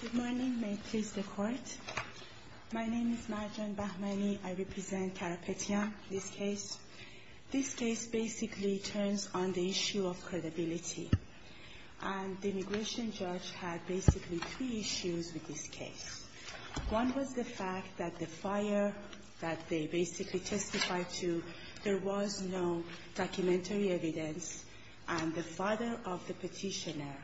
Good morning. May it please the Court. My name is Marjan Bahmani. I represent Karapetian, this case. This case basically turns on the issue of credibility, and the immigration judge had basically three issues with this case. One was the fact that the fire that they basically testified to, there was no documentary evidence, and the father of the petitioner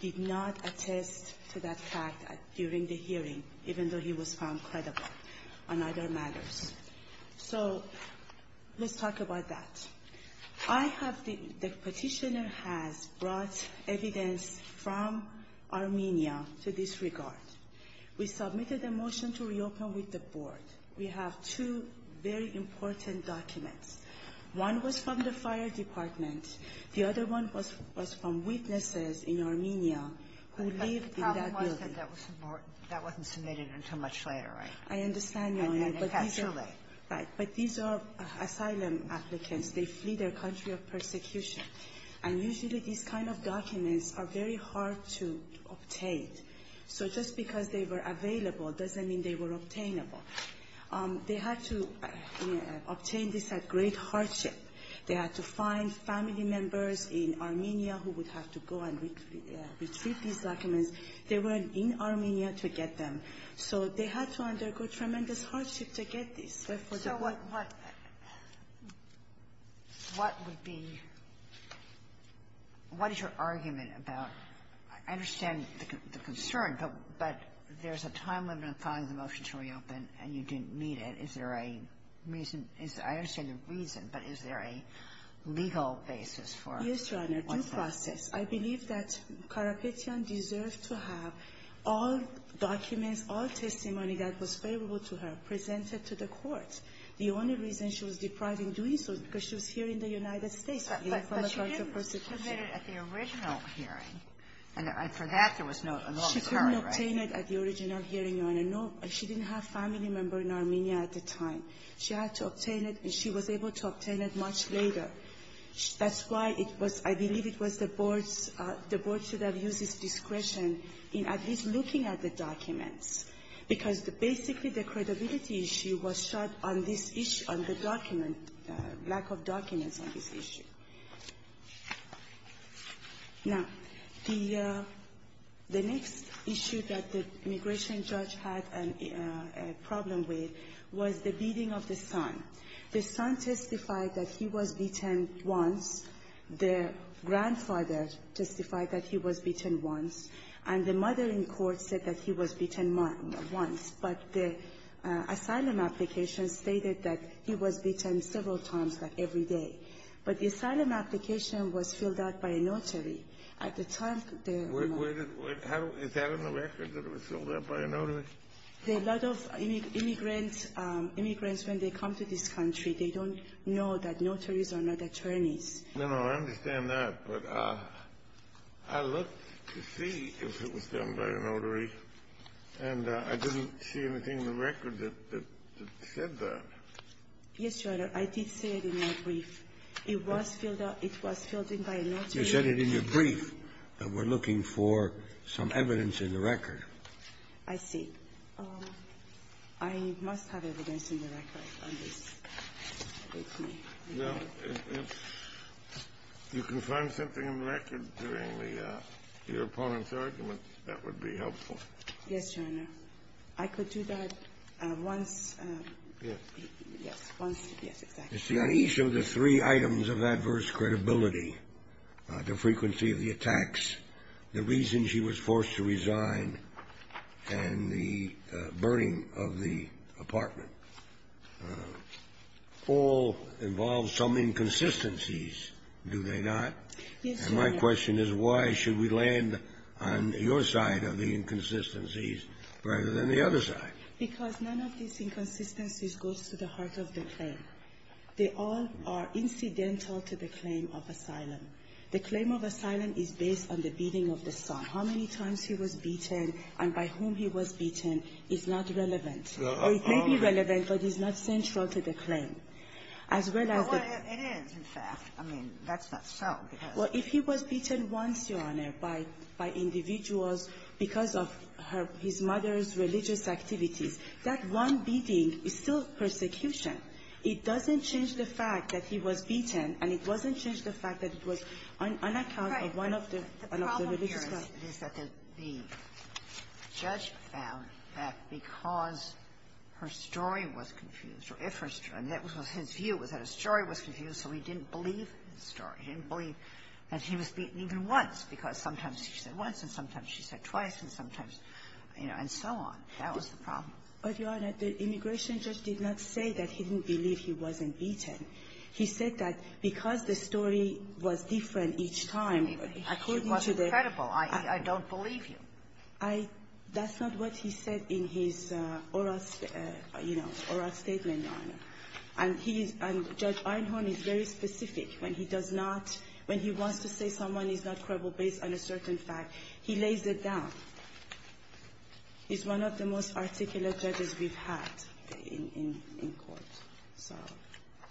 did not attest to that fact during the hearing, even though he was found credible on other matters. So let's talk about that. The petitioner has brought evidence from Armenia to this regard. We submitted a motion to reopen with the Board. We have two very important documents. One was from the fire department. The other one was from witnesses in Armenia who lived in that building. Sotomayor, that wasn't submitted until much later, right? I understand, Your Honor, but these are asylum applicants. They flee their country of persecution. And usually these kind of documents are very hard to obtain. So just because they were available doesn't mean they were obtainable. They had to obtain this at greater rate hardship. They had to find family members in Armenia who would have to go and retrieve these documents. They were in Armenia to get them. So they had to undergo tremendous hardship to get this. So what would be what is your argument about? I understand the concern, but there's a time limit on filing the motion to reopen, and you didn't meet it. Is there a reason? I understand the reason, but is there a legal basis for what's done? Yes, Your Honor, due process. I believe that Karapetyan deserves to have all documents, all testimony that was favorable to her presented to the court. The only reason she was deprived in doing so is because she was here in the United States. But she didn't submit it at the original hearing. And for that, there was no current record. She couldn't obtain it at the original hearing, Your Honor. No. She didn't have family members in Armenia at the time. She had to obtain it, and she was able to obtain it much later. That's why it was — I believe it was the board's — the board should have used its discretion in at least looking at the documents, because basically the credibility issue was shot on this issue, on the document, lack of documents on this issue. Now, the next issue that the immigration judge had a problem with was the beating of the son. The son testified that he was beaten once. The grandfather testified that he was beaten once. And the mother in court said that he was beaten once. But the asylum application stated that he was beaten several times, like several times. The asylum application was filled out by a notary. At the time, the — Where did — how — is that in the record, that it was filled out by a notary? A lot of immigrants — immigrants, when they come to this country, they don't know that notaries are not attorneys. No, no. I understand that. But I looked to see if it was done by a notary, and I didn't see anything in the record that said that. Yes, Your Honor. I did see it in my brief. It was filled out — it was filled in by a notary. You said it in your brief that we're looking for some evidence in the record. I see. I must have evidence in the record on this. Well, if you can find something in the record during the — your opponent's argument, that would be helpful. Yes, Your Honor. I could do that once. Yes. Yes, once. Yes, exactly. You see, on each of the three items of adverse credibility — the frequency of the attacks, the reason she was forced to resign, and the burning of the apartment — all involve some inconsistencies, do they not? Yes, Your Honor. And my question is, why should we land on your side of the inconsistencies rather than the other side? Because none of these inconsistencies goes to the heart of the claim. They all are incidental to the claim of asylum. The claim of asylum is based on the beating of the son. How many times he was beaten and by whom he was beaten is not relevant. Or it may be relevant, but it's not central to the claim. As well as the — Well, it is, in fact. I mean, that's not so, because — Well, if he was beaten once, Your Honor, by individuals because of his mother's religious activities, that one beating is still persecution. It doesn't change the fact that he was beaten, and it doesn't change the fact that it was on account of one of the — Right. The problem here is that the judge found that because her story was confused or if her story — I mean, that was his view, was that her story was confused, so he didn't believe his story. He didn't believe that he was beaten even once, because sometimes she said once, and sometimes she said twice, and sometimes, you know, and so on. That was the problem. But, Your Honor, the immigration judge did not say that he didn't believe he wasn't beaten. He said that because the story was different each time, according to the — I mean, it wasn't credible, i.e., I don't believe you. I — that's not what he said in his oral, you know, oral statement, Your Honor. And he is — and Judge Einhorn is very specific when he does not — when he wants to say someone is not credible based on a certain fact, he lays it down. He's one of the most articulate judges we've had in court. So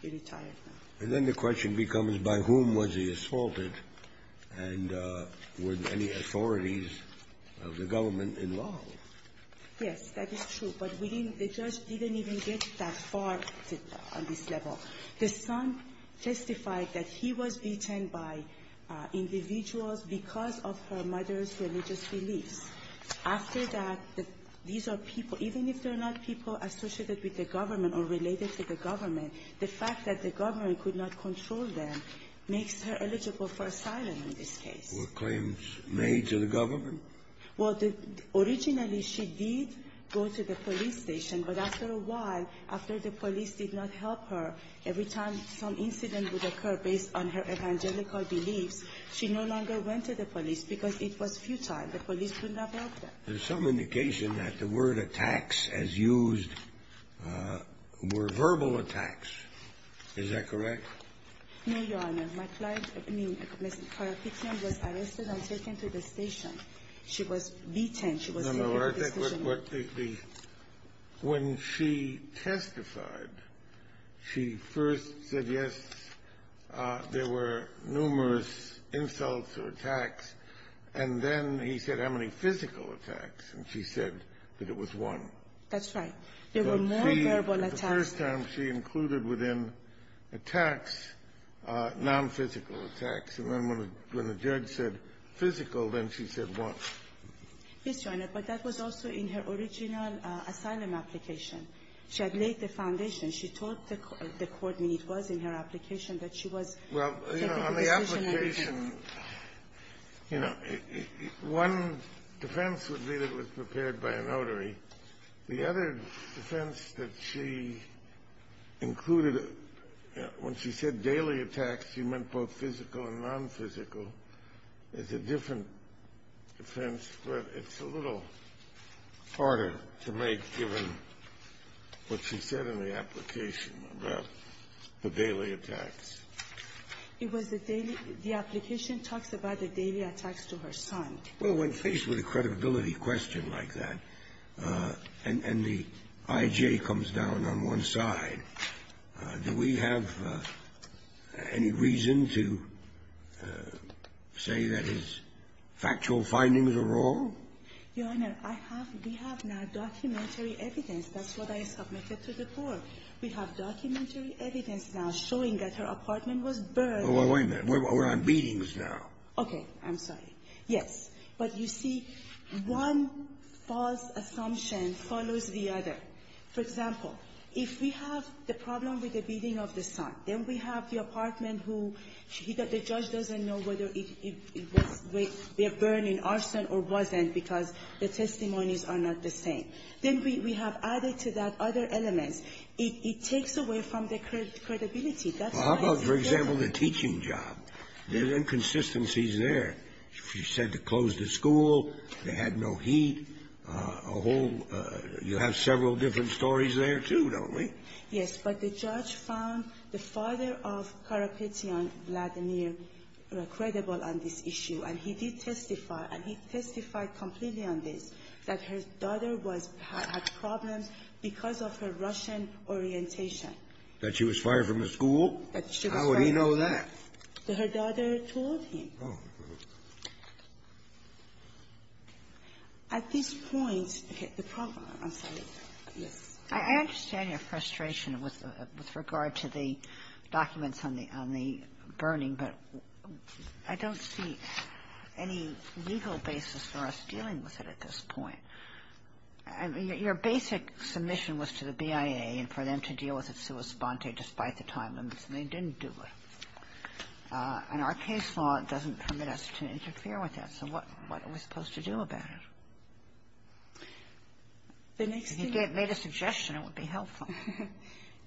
he retired now. And then the question becomes, by whom was he assaulted, and were there any authorities of the government involved? Yes, that is true. But we didn't — the judge didn't even get that far on this level. The son testified that he was beaten by individuals because of her mother's religious beliefs. After that, these are people — even if they're not people associated with the government or related to the government, the fact that the government could not control them makes her eligible for asylum in this case. Were claims made to the government? Well, the — originally, she did go to the police station. But after a while, after the police did not help her, every time some incident would occur based on her evangelical beliefs, she no longer went to the police because it was futile. The police could not help her. There's some indication that the word attacks, as used, were verbal attacks. Is that correct? No, Your Honor. My client — I mean, her victim was arrested and taken to the station. She was beaten. No, no. I think what the — when she testified, she first said, yes, there were numerous insults or attacks. And then he said, how many physical attacks? And she said that it was one. That's right. There were more verbal attacks. The first time, she included within attacks nonphysical attacks. And then when the judge said physical, then she said one. Yes, Your Honor. But that was also in her original asylum application. She had laid the foundation. She told the court when it was in her application that she was — Well, you know, on the application, you know, one defense would be that it was prepared by a notary. The other defense that she included when she said daily attacks, she meant both physical and nonphysical. It's a different defense, but it's a little harder to make, given what she said in the application about the daily attacks. It was the daily — the application talks about the daily attacks to her son. Well, when faced with a credibility question like that, and the I.J. comes down on one side, do we have any reason to say that his factual findings are wrong? Your Honor, I have — we have now documentary evidence. That's what I submitted to the court. We have documentary evidence now showing that her apartment was burned. Well, wait a minute. We're on beatings now. Okay. I'm sorry. Yes. But you see, one false assumption follows the other. For example, if we have the problem with the beating of the son, then we have the apartment who — the judge doesn't know whether it was — we have burned in arson or wasn't because the testimonies are not the same. Then we have added to that other elements. It takes away from the credibility. That's why it's there. Well, how about, for example, the teaching job? There are inconsistencies there. She said to close the school. They had no heat. A whole — you have several different stories there, too, don't we? Yes. But the judge found the father of Karapetyan Vladimir credible on this issue. And he did testify, and he testified completely on this, that her daughter was — had problems because of her Russian orientation. That she was fired from the school? That she was fired. How would he know that? Her daughter told him. Oh. At this point, the problem — I'm sorry. Yes. I understand your frustration with regard to the documents on the — on the burning, but I don't see any legal basis for us dealing with it at this point. I mean, your basic submission was to the BIA and for them to deal with it sua sponte despite the time limits, and they didn't do it. And our case law doesn't permit us to interfere with that. So what are we supposed to do about it? The next thing — If you made a suggestion, it would be helpful.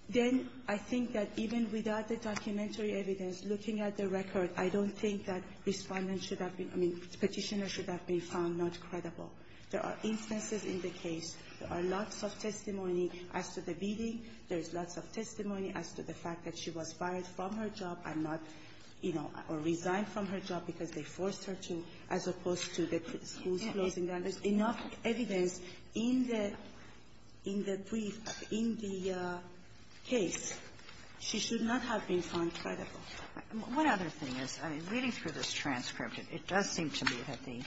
Then I think that even without the documentary evidence, looking at the record, I don't think that Respondent should have been — I mean, Petitioner should have been found not credible. There are instances in the case. There are lots of testimony as to the beating. There is lots of testimony as to the fact that she was fired from her job and not — you know, or resigned from her job because they forced her to, as opposed to the school's closing down. There's enough evidence in the — in the brief, in the case. She should not have been found credible. One other thing is, I mean, reading through this transcript, it does seem to me that the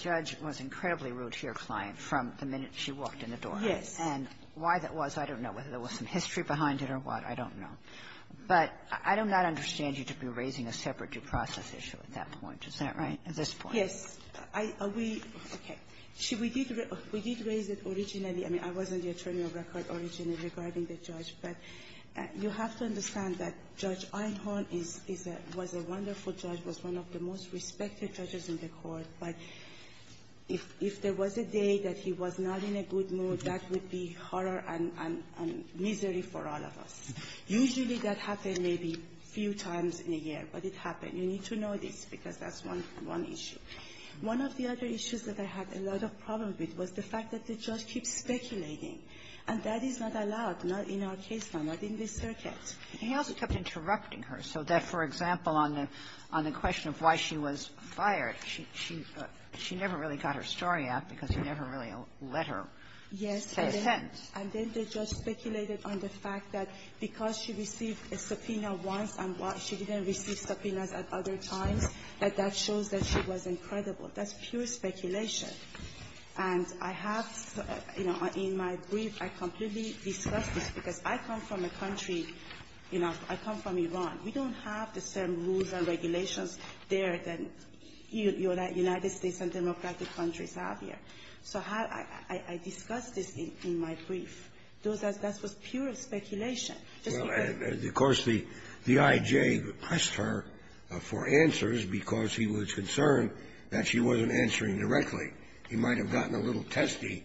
judge was incredibly rude to your client from the minute she walked in the door. Yes. And why that was, I don't know, whether there was some history behind it or what. I don't know. But I do not understand you to be raising a separate due process issue at that point. Is that right, at this point? Yes. Are we — okay. We did raise it originally. I mean, I was in the attorney of record originally regarding the judge, but you have to understand that Judge Einhorn is a — was a wonderful judge, was one of the most respected judges in the Court. But if — if there was a day that he was not in a good mood, that would be horror and — and misery for all of us. Usually that happens maybe a few times in a year, but it happened. You need to know this because that's one — one issue. One of the other issues that I had a lot of problems with was the fact that the judge keeps speculating, and that is not allowed, not in our case now, not in this circuit. He also kept interrupting her so that, for example, on the — on the question of why she was fired, she — she never really got her story out because he never really let her say a sentence. Yes. And then the judge speculated on the fact that because she received a subpoena once and why she didn't receive subpoenas at other times, that that shows that she was incredible. That's pure speculation. And I have — you know, in my brief, I completely discussed this because I come from a country — you know, I come from Iran. We don't have the same rules and regulations there that United States and democratic countries have here. So how — I discussed this in my brief. That was pure speculation. Well, and of course, the I.J. pressed her for answers because he was concerned that she wasn't answering directly. He might have gotten a little testy,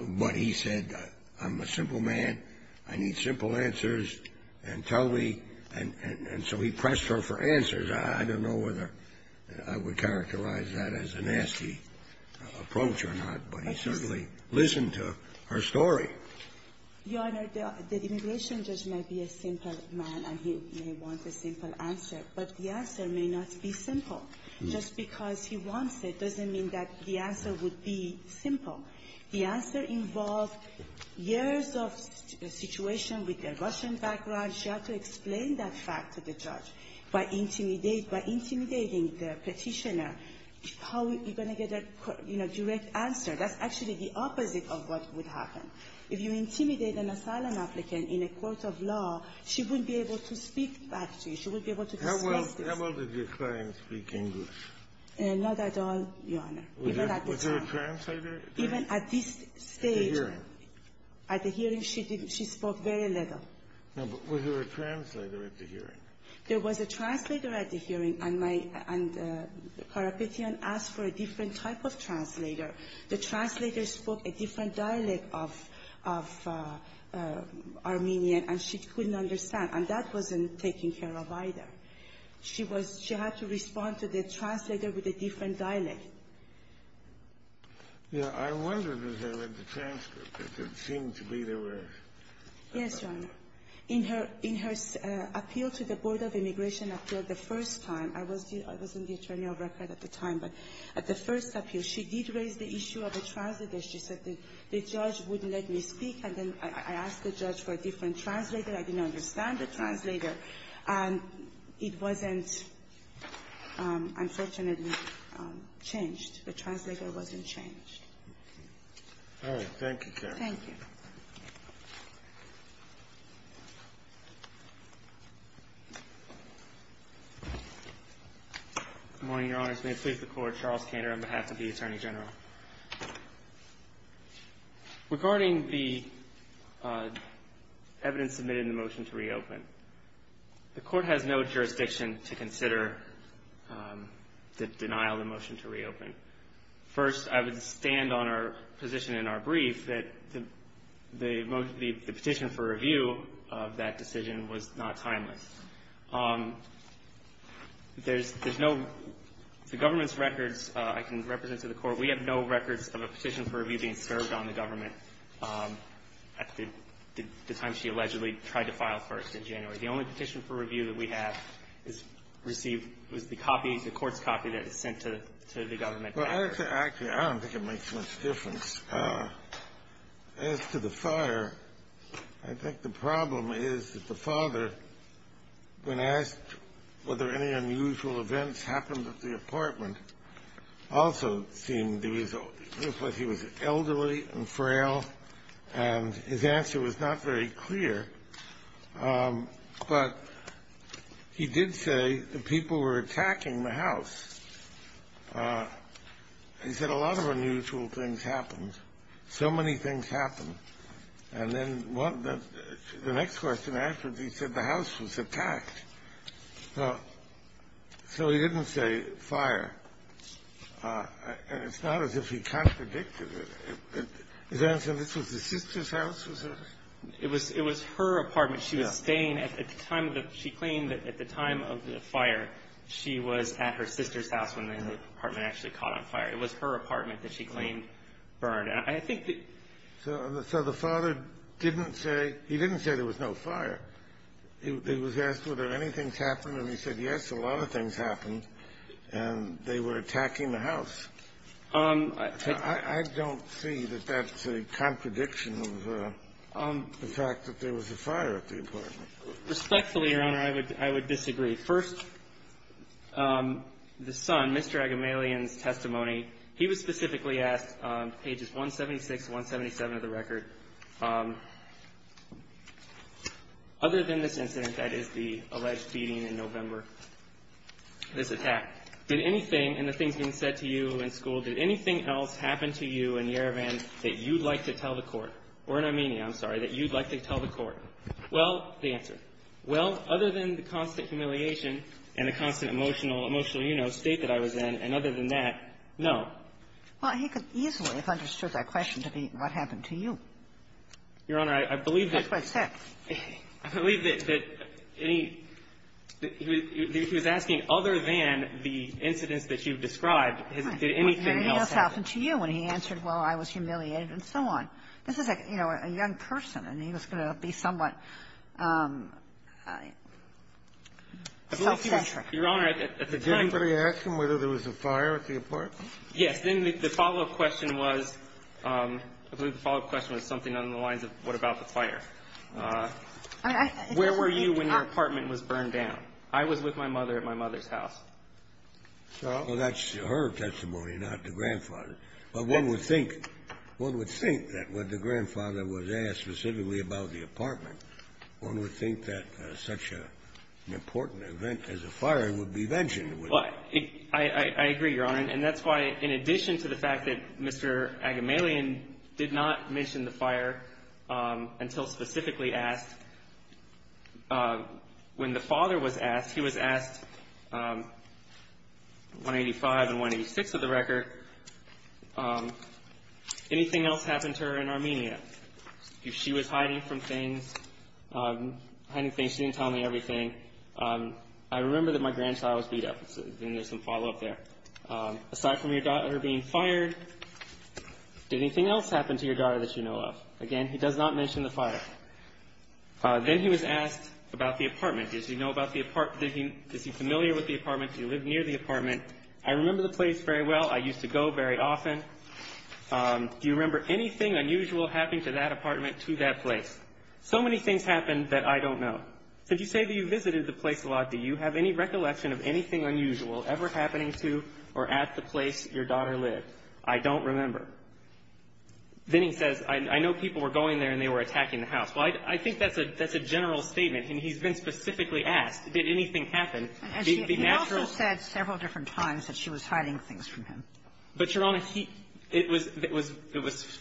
but he said, I'm a simple man. I need simple answers and tell me — and so he pressed her for answers. I don't know whether I would characterize that as a nasty approach or not, but he certainly listened to her story. Your Honor, the immigration judge may be a simple man and he may want a simple answer, but the answer may not be simple. Just because he wants it doesn't mean that the answer would be simple. The answer involves years of situation with a Russian background. She had to explain that fact to the judge by intimidating — by intimidating the petitioner how you're going to get a, you know, direct answer. That's actually the opposite of what would happen. If you intimidate an asylum applicant in a court of law, she wouldn't be able to speak back to you. She would be able to dismiss this. How well did your client speak English? Not at all, Your Honor. Was there a translator there? Even at this stage — At the hearing. At the hearing, she didn't — she spoke very little. No, but was there a translator at the hearing? There was a translator at the hearing, and my — and Karapetian asked for a different type of translator. The translator spoke a different dialect of — of Armenian, and she couldn't understand, and that wasn't taken care of either. She was — she had to respond to the translator with a different dialect. Yeah. I wondered if there was a transcript. It seemed to be there was. Yes, Your Honor. In her — in her appeal to the Board of Immigration Appeal the first time — I was the — I was in the attorney of record at the time, but at the first appeal, she did raise the issue of a translator. She said the judge wouldn't let me speak, and then I asked the judge for a different translator. I didn't understand the translator, and it wasn't, unfortunately, changed. The translator wasn't changed. All right. Thank you, Karen. Thank you. Good morning, Your Honors. May it please the Court. Charles Kander on behalf of the Attorney General. Regarding the evidence submitted in the motion to reopen, the Court has no jurisdiction to consider the denial of the motion to reopen. First, I would stand on our position in our brief that the petition for review of that decision was not timeless. There's no — the government's records I can represent to the Court. We have no records of a petition for review being served on the government at the time she allegedly tried to file first in January. The only petition for review that we have is received — was the copy, the court's copy that is sent to the government. Well, actually, I don't think it makes much difference. As to the fire, I think the problem is that the father, when asked whether any unusual events happened at the apartment, also seemed — he was elderly and frail, and his But he did say the people were attacking the house. He said a lot of unusual things happened. So many things happened. And then the next question asked was, he said the house was attacked. So he didn't say fire. And it's not as if he contradicted it. His answer, this was his sister's house, was it? It was her apartment. She was staying at the time of the — she claimed that at the time of the fire, she was at her sister's house when the apartment actually caught on fire. It was her apartment that she claimed burned. And I think that — So the father didn't say — he didn't say there was no fire. He was asked whether anything happened, and he said, yes, a lot of things happened, and they were attacking the house. I don't see that that's a contradiction of the fact that there was a fire at the apartment. Respectfully, Your Honor, I would disagree. First, the son, Mr. Agamalian's testimony, he was specifically asked, pages 176 to 177 of the record, other than this incident, that is, the alleged beating in November, this attack, did anything in the things being said to you in school, did anything else happen to you in Yerevan that you'd like to tell the Court, or in Armenia, I'm sorry, that you'd like to tell the Court? Well, the answer, well, other than the constant humiliation and the constant emotional state that I was in, and other than that, no. Well, he could easily have understood that question to be what happened to you. Your Honor, I believe that — That's what it said. I believe that any — he was asking, other than the incidents that you've described, did anything else happen? Nothing else happened to you, and he answered, well, I was humiliated, and so on. This is, you know, a young person, and he was going to be somewhat self-centric. Your Honor, at the time — Did anybody ask him whether there was a fire at the apartment? Yes. Then the follow-up question was — I believe the follow-up question was something along the lines of, what about the fire? Where were you when your apartment was burned down? I was with my mother at my mother's house. Well, that's her testimony, not the grandfather. But one would think that when the grandfather was asked specifically about the apartment, one would think that such an important event as a fire would be mentioned. I agree, Your Honor, and that's why, in addition to the fact that Mr. Agamalian did not mention the fire until specifically asked, when the father was asked, he was asked, 185 and 186 of the record, anything else happen to her in Armenia? If she was hiding from things, hiding things, she didn't tell me everything. I remember that my grandchild was beat up, and there's some follow-up there. Aside from your daughter being fired, did anything else happen to your daughter that you know of? Again, he does not mention the fire. Then he was asked about the apartment. Does he know about the apartment? Is he familiar with the apartment? Do you live near the apartment? I remember the place very well. I used to go very often. Do you remember anything unusual happening to that apartment, to that place? So many things happened that I don't know. Since you say that you visited the place a lot, do you have any recollection of anything unusual ever happening to or at the place your daughter lived? I don't remember. Then he says, I know people were going there, and they were attacking the house. Well, I think that's a general statement, and he's been specifically asked, did anything happen? The natural ---- And she also said several different times that she was hiding things from him. But, Your Honor, he – it was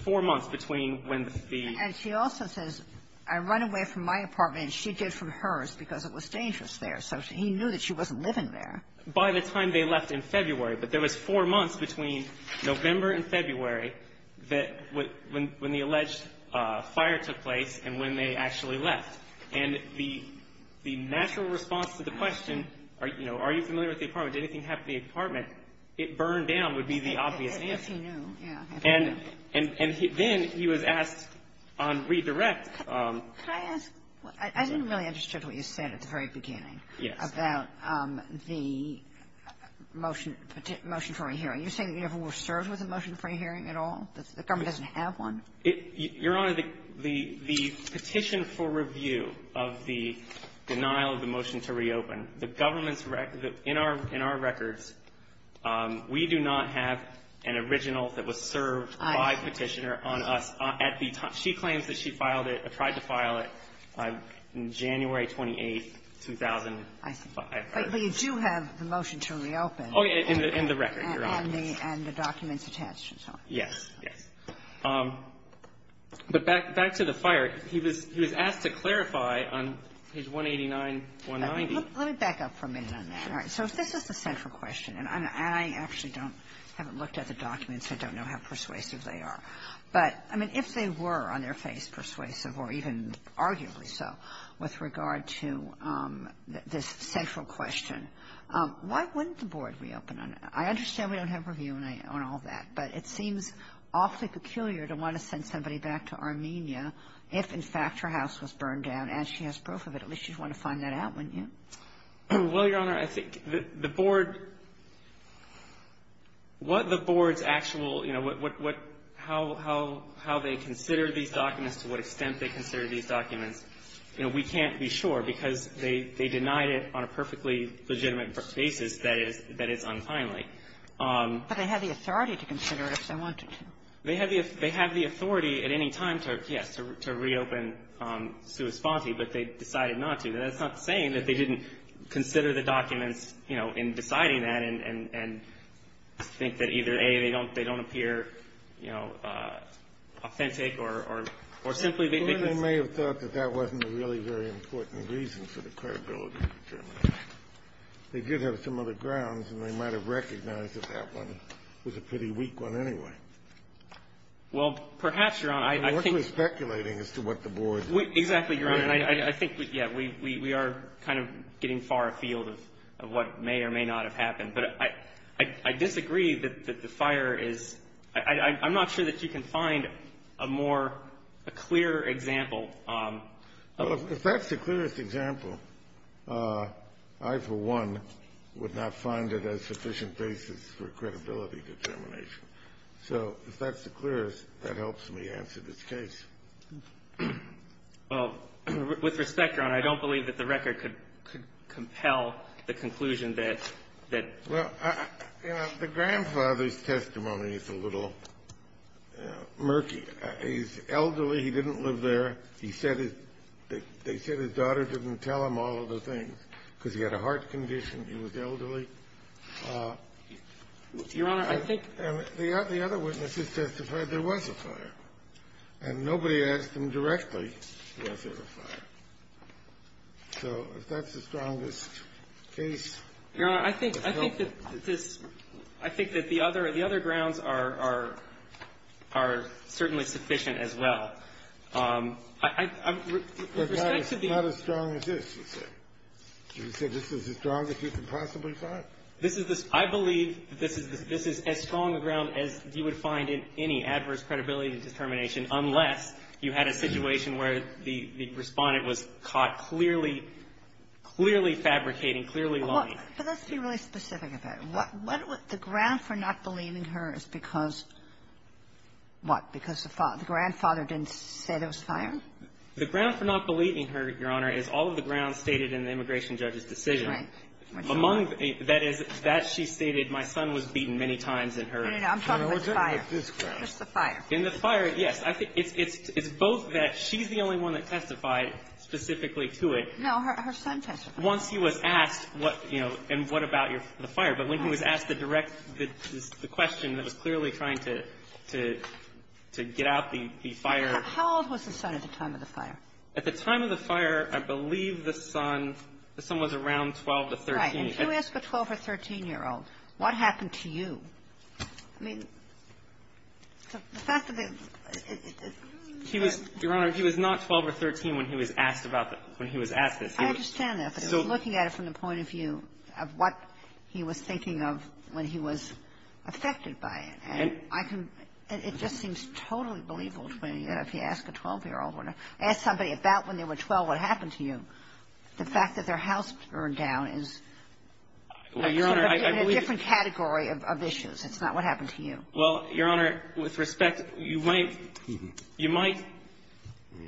four months between when the ---- And she also says, I run away from my apartment, and she did from hers because it was dangerous there. So he knew that she wasn't living there. By the time they left in February, but there was four months between November and February when the alleged fire took place and when they actually left. And the natural response to the question, are you familiar with the apartment? Did anything happen to the apartment? It burned down would be the obvious answer. If he knew, yeah. And then he was asked on redirect. Could I ask? I didn't really understand what you said at the very beginning. Yes. About the motion for a hearing. You're saying you never were served with a motion for a hearing at all? The government doesn't have one? Your Honor, the petition for review of the denial of the motion to reopen, the government's record – in our records, we do not have an original that was served by Petitioner on us. She claims that she filed it – tried to file it on January 28, 2005. I see. But you do have the motion to reopen. Oh, yeah. In the record, Your Honor. And the documents attached and so on. Yes. Yes. But back to the fire, he was asked to clarify on page 189, 190. Let me back up for a minute on that. All right. So if this is the central question, and I actually don't – haven't looked at the documents, so I don't know how persuasive they are. But, I mean, if they were on their face persuasive, or even arguably so, with regard to this central question, why wouldn't the Board reopen on it? I understand we don't have review on all that, but it seems awfully peculiar to want to send somebody back to Armenia if, in fact, her house was burned down, and she has proof of it. At least you'd want to find that out, wouldn't you? Well, Your Honor, I think the Board – what the Board's actual – you know, what – how they consider these documents, to what extent they consider these documents, you know, we can't be sure because they denied it on a perfectly legitimate basis that it's unfinely. But they have the authority to consider it if they wanted to. They have the authority at any time to, yes, to reopen Suus Vanti, but they decided not to. And that's not saying that they didn't consider the documents, you know, in deciding that and think that either, A, they don't appear, you know, authentic or simply they – Well, they may have thought that that wasn't a really very important reason for the credibility determination. They did have some other grounds, and they might have recognized that that one was a pretty weak one anyway. Well, perhaps, Your Honor, I think – The Board was speculating as to what the Board – Exactly, Your Honor. And I think, yes, we are kind of getting far afield of what may or may not have happened. But I disagree that the fire is – I'm not sure that you can find a more – a clearer example of – Well, if that's the clearest example, I, for one, would not find it a sufficient basis for credibility determination. So if that's the clearest, that helps me answer this case. Well, with respect, Your Honor, I don't believe that the record could compel the conclusion that – Well, you know, the grandfather's testimony is a little murky. He's elderly. He didn't live there. He said his – they said his daughter didn't tell him all of the things because he had a heart condition. He was elderly. Your Honor, I think – And the other witnesses testified there was a fire. And nobody asked them directly was there a fire. So if that's the strongest case, it's helpful. Your Honor, I think that this – I think that the other grounds are certainly sufficient as well. With respect to the – But not as strong as this, you said. You said this is the strongest you could possibly find. This is the – I believe this is as strong a ground as you would find in any adverse credibility determination unless you had a situation where the respondent was caught clearly fabricating, clearly lying. But let's be really specific about it. What would – the ground for not believing her is because, what, because the grandfather didn't say there was a fire? The ground for not believing her, Your Honor, is all of the grounds stated in the immigration judge's decision. Right. Among – that is, that she stated my son was beaten many times in her – No, no, no. I'm talking about the fire. Just the fire. In the fire, yes. It's both that she's the only one that testified specifically to it. No, her son testified. Once he was asked what, you know, and what about the fire. But when he was asked the direct – the question that was clearly trying to get out the fire. How old was the son at the time of the fire? At the time of the fire, I believe the son – the son was around 12 to 13. Right. And if you ask a 12- or 13-year-old, what happened to you? I mean, the fact that the – He was – Your Honor, he was not 12 or 13 when he was asked about the – when he was asked this. I understand that. But looking at it from the point of view of what he was thinking of when he was affected by it, and I can – it just seems totally believable to me that if you ask a 12-year-old or ask somebody about when they were 12, what happened to you, the fact that their house burned down is sort of in a different category of issues. It's not what happened to you. Well, Your Honor, with respect, you might – you might –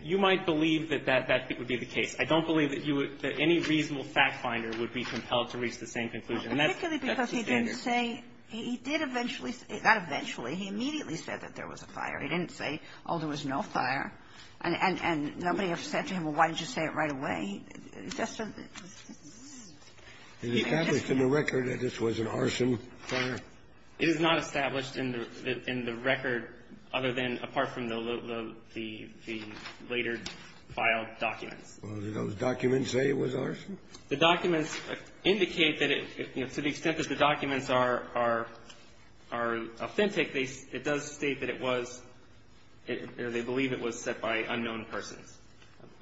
you might believe that that would be the case. I don't believe that you would – that any reasonable fact finder would be compelled to reach the same conclusion. And that's the standard. Particularly because he didn't say – he did eventually – not eventually. He immediately said that there was a fire. He didn't say, oh, there was no fire. And – and nobody ever said to him, well, why didn't you say it right away? He just sort of – It's established in the record that this was an arson fire. It is not established in the – in the record other than – apart from the later filed documents. Well, do those documents say it was arson? The documents indicate that it – to the extent that the documents are – are authentic, they – it does state that it was – they believe it was set by unknown persons.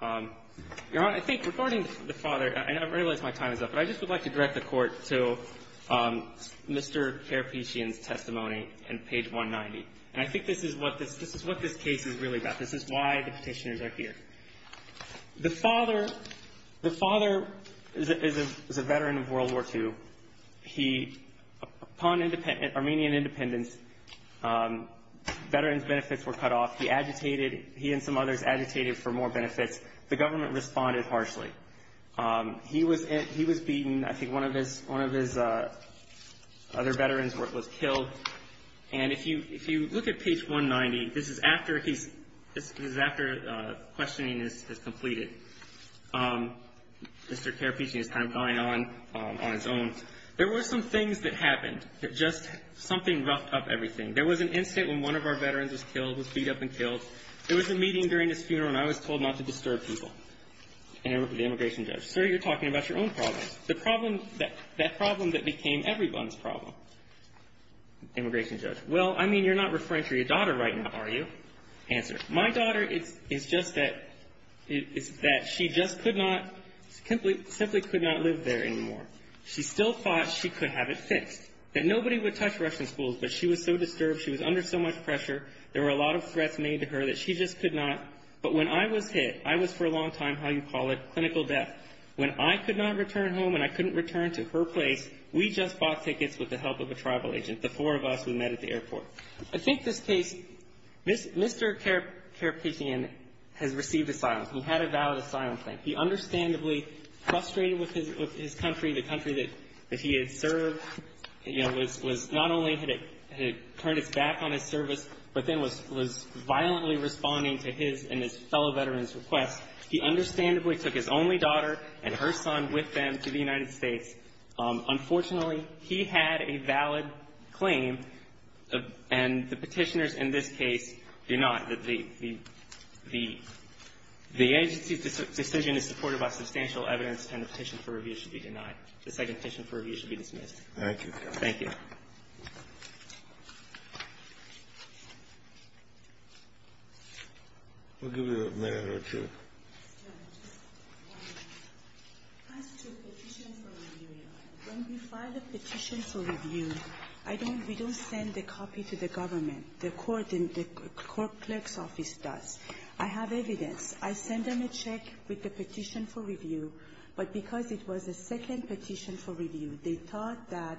Your Honor, I think regarding the father – and I realize my time is up, but I just would like to direct the Court to Mr. Karapetian's testimony on page 190. And I think this is what this – this is what this case is really about. This is why the petitioners are here. The father – the father is a veteran of World War II. He – upon Armenian independence, veterans' benefits were cut off. He agitated – he and some others agitated for more benefits. The government responded harshly. He was – he was beaten. I think one of his – one of his other veterans was killed. And if you – if you look at page 190, this is after he's – this is after questioning is completed. Mr. Karapetian is kind of going on – on his own. There were some things that happened that just – something roughed up everything. There was an incident when one of our veterans was killed, was beat up and killed. There was a meeting during his funeral, and I was told not to disturb people. And the immigration judge, sir, you're talking about your own problems. The problem – that problem that became everyone's problem, immigration judge. Well, I mean, you're not referring to your daughter right now, are you? Answer. My daughter is just that – is that she just could not – simply could not live there anymore. She still thought she could have it fixed, that nobody would touch Russian schools, but she was so disturbed. She was under so much pressure. There were a lot of threats made to her that she just could not. But when I was hit – I was for a long time, how you call it, clinical death. When I could not return home and I couldn't return to her place, we just bought tickets with the help of a tribal agent, the four of us we met at the airport. I think this case – Mr. Karapetian has received asylum. He had a valid asylum claim. He understandably frustrated with his country, the country that he had served, you know, was – not only had it turned its back on his service, but then was violently responding to his and his fellow veterans' requests. He understandably took his only daughter and her son with them to the United States. Unfortunately, he had a valid claim and the petitioners in this case do not. The agency's decision is supported by substantial evidence and the petition for review should be denied. The second petition for review should be dismissed. Thank you. Thank you. We'll give you a minute or two. Yes, ma'am. Just one minute. As to the petition for review, when we file a petition for review, I don't – we don't send a copy to the government. The court – the court clerk's office does. I have evidence. I send them a check with the petition for review, but because it was a second petition for review, they thought that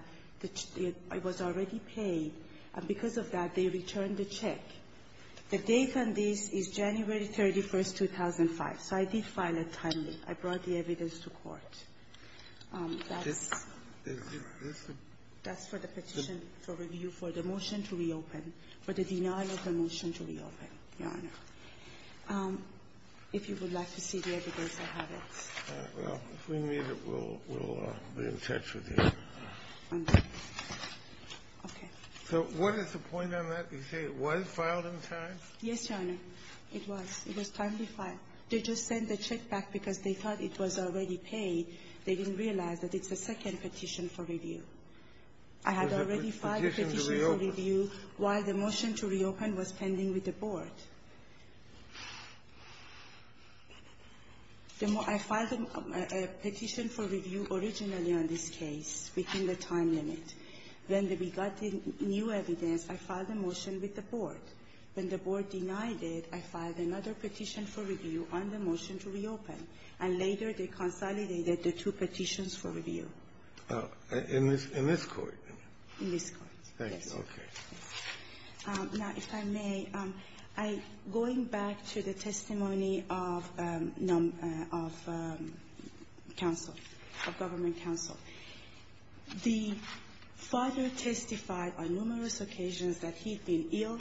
it was already paid, and because of that, they returned the check. The date on this is January 31st, 2005, so I did file it timely. I brought the evidence to court. That's for the petition for review, for the motion to reopen, for the denial of the motion to reopen, Your Honor. If you would like to see the evidence, I have it. All right. Well, if we need it, we'll be in touch with you. Okay. Okay. So what is the point on that? You say it was filed on time? Yes, Your Honor. It was. It was timely filed. They just sent the check back because they thought it was already paid. They didn't realize that it's a second petition for review. I had already filed a petition for review while the motion to reopen was pending with the board. I filed a petition for review originally on this case within the time limit. When we got the new evidence, I filed a motion with the board. When the board denied it, I filed another petition for review on the motion to reopen, and later they consolidated the two petitions for review. In this court? In this court. Thank you. Okay. Now, if I may, going back to the testimony of counsel, of government counsel, the father testified on numerous occasions that he'd been ill,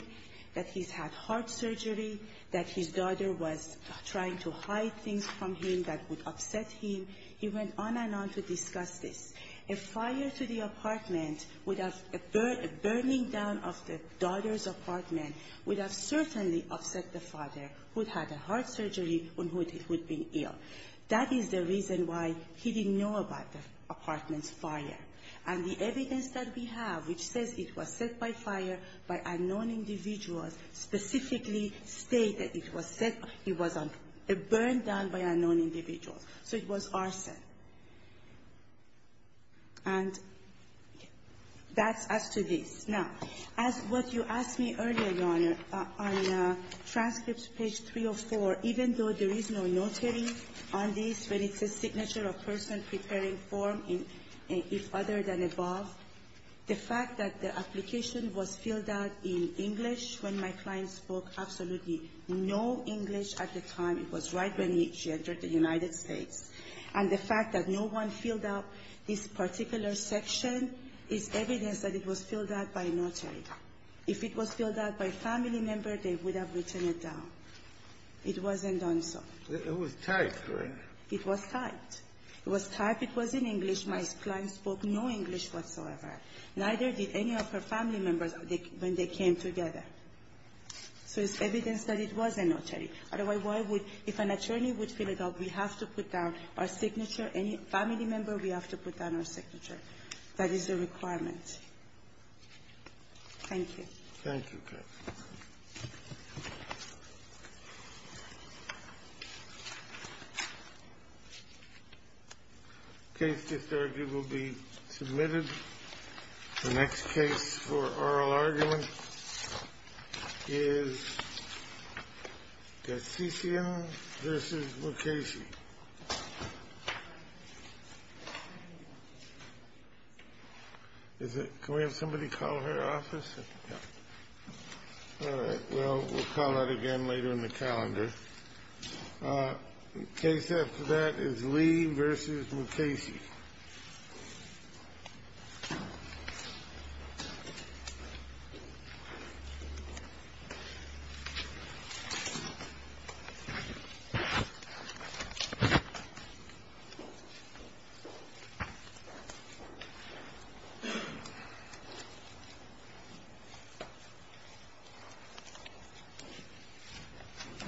that he's had heart surgery, that his daughter was trying to hide things from him that would upset him. He went on and on to discuss this. A fire to the apartment would have – a burning down of the daughter's apartment would have certainly upset the father, who'd had a heart surgery and who'd been ill. That is the reason why he didn't know about the apartment's fire. And the evidence that we have which says it was set by fire by unknown individuals specifically stated it was set – it was a burn down by unknown individuals. So it was arson. And that's as to this. Now, as what you asked me earlier, Your Honor, on transcripts, page 304, even though there is no notary on this, but it's a signature of person preparing form, if other than above, the fact that the application was filled out in English when my client spoke absolutely no English at the time. It was right when she entered the United States. And the fact that no one filled out this particular section is evidence that it was filled out by a notary. If it was filled out by a family member, they would have written it down. It wasn't done so. It was typed, right? It was typed. It was typed. It was in English. My client spoke no English whatsoever. Neither did any of her family members when they came together. So it's evidence that it was a notary. Otherwise, why would – if an attorney would fill it out, we have to put down our signature. Any family member, we have to put down our signature. That is a requirement. Thank you. Thank you. The case just argued will be submitted. The next case for oral argument is Gacician v. Mukasey. Is it – can we have somebody call her office? Yeah. All right. Well, we'll call that again later in the calendar. The case after that is Lee v. Mukasey. Thank you.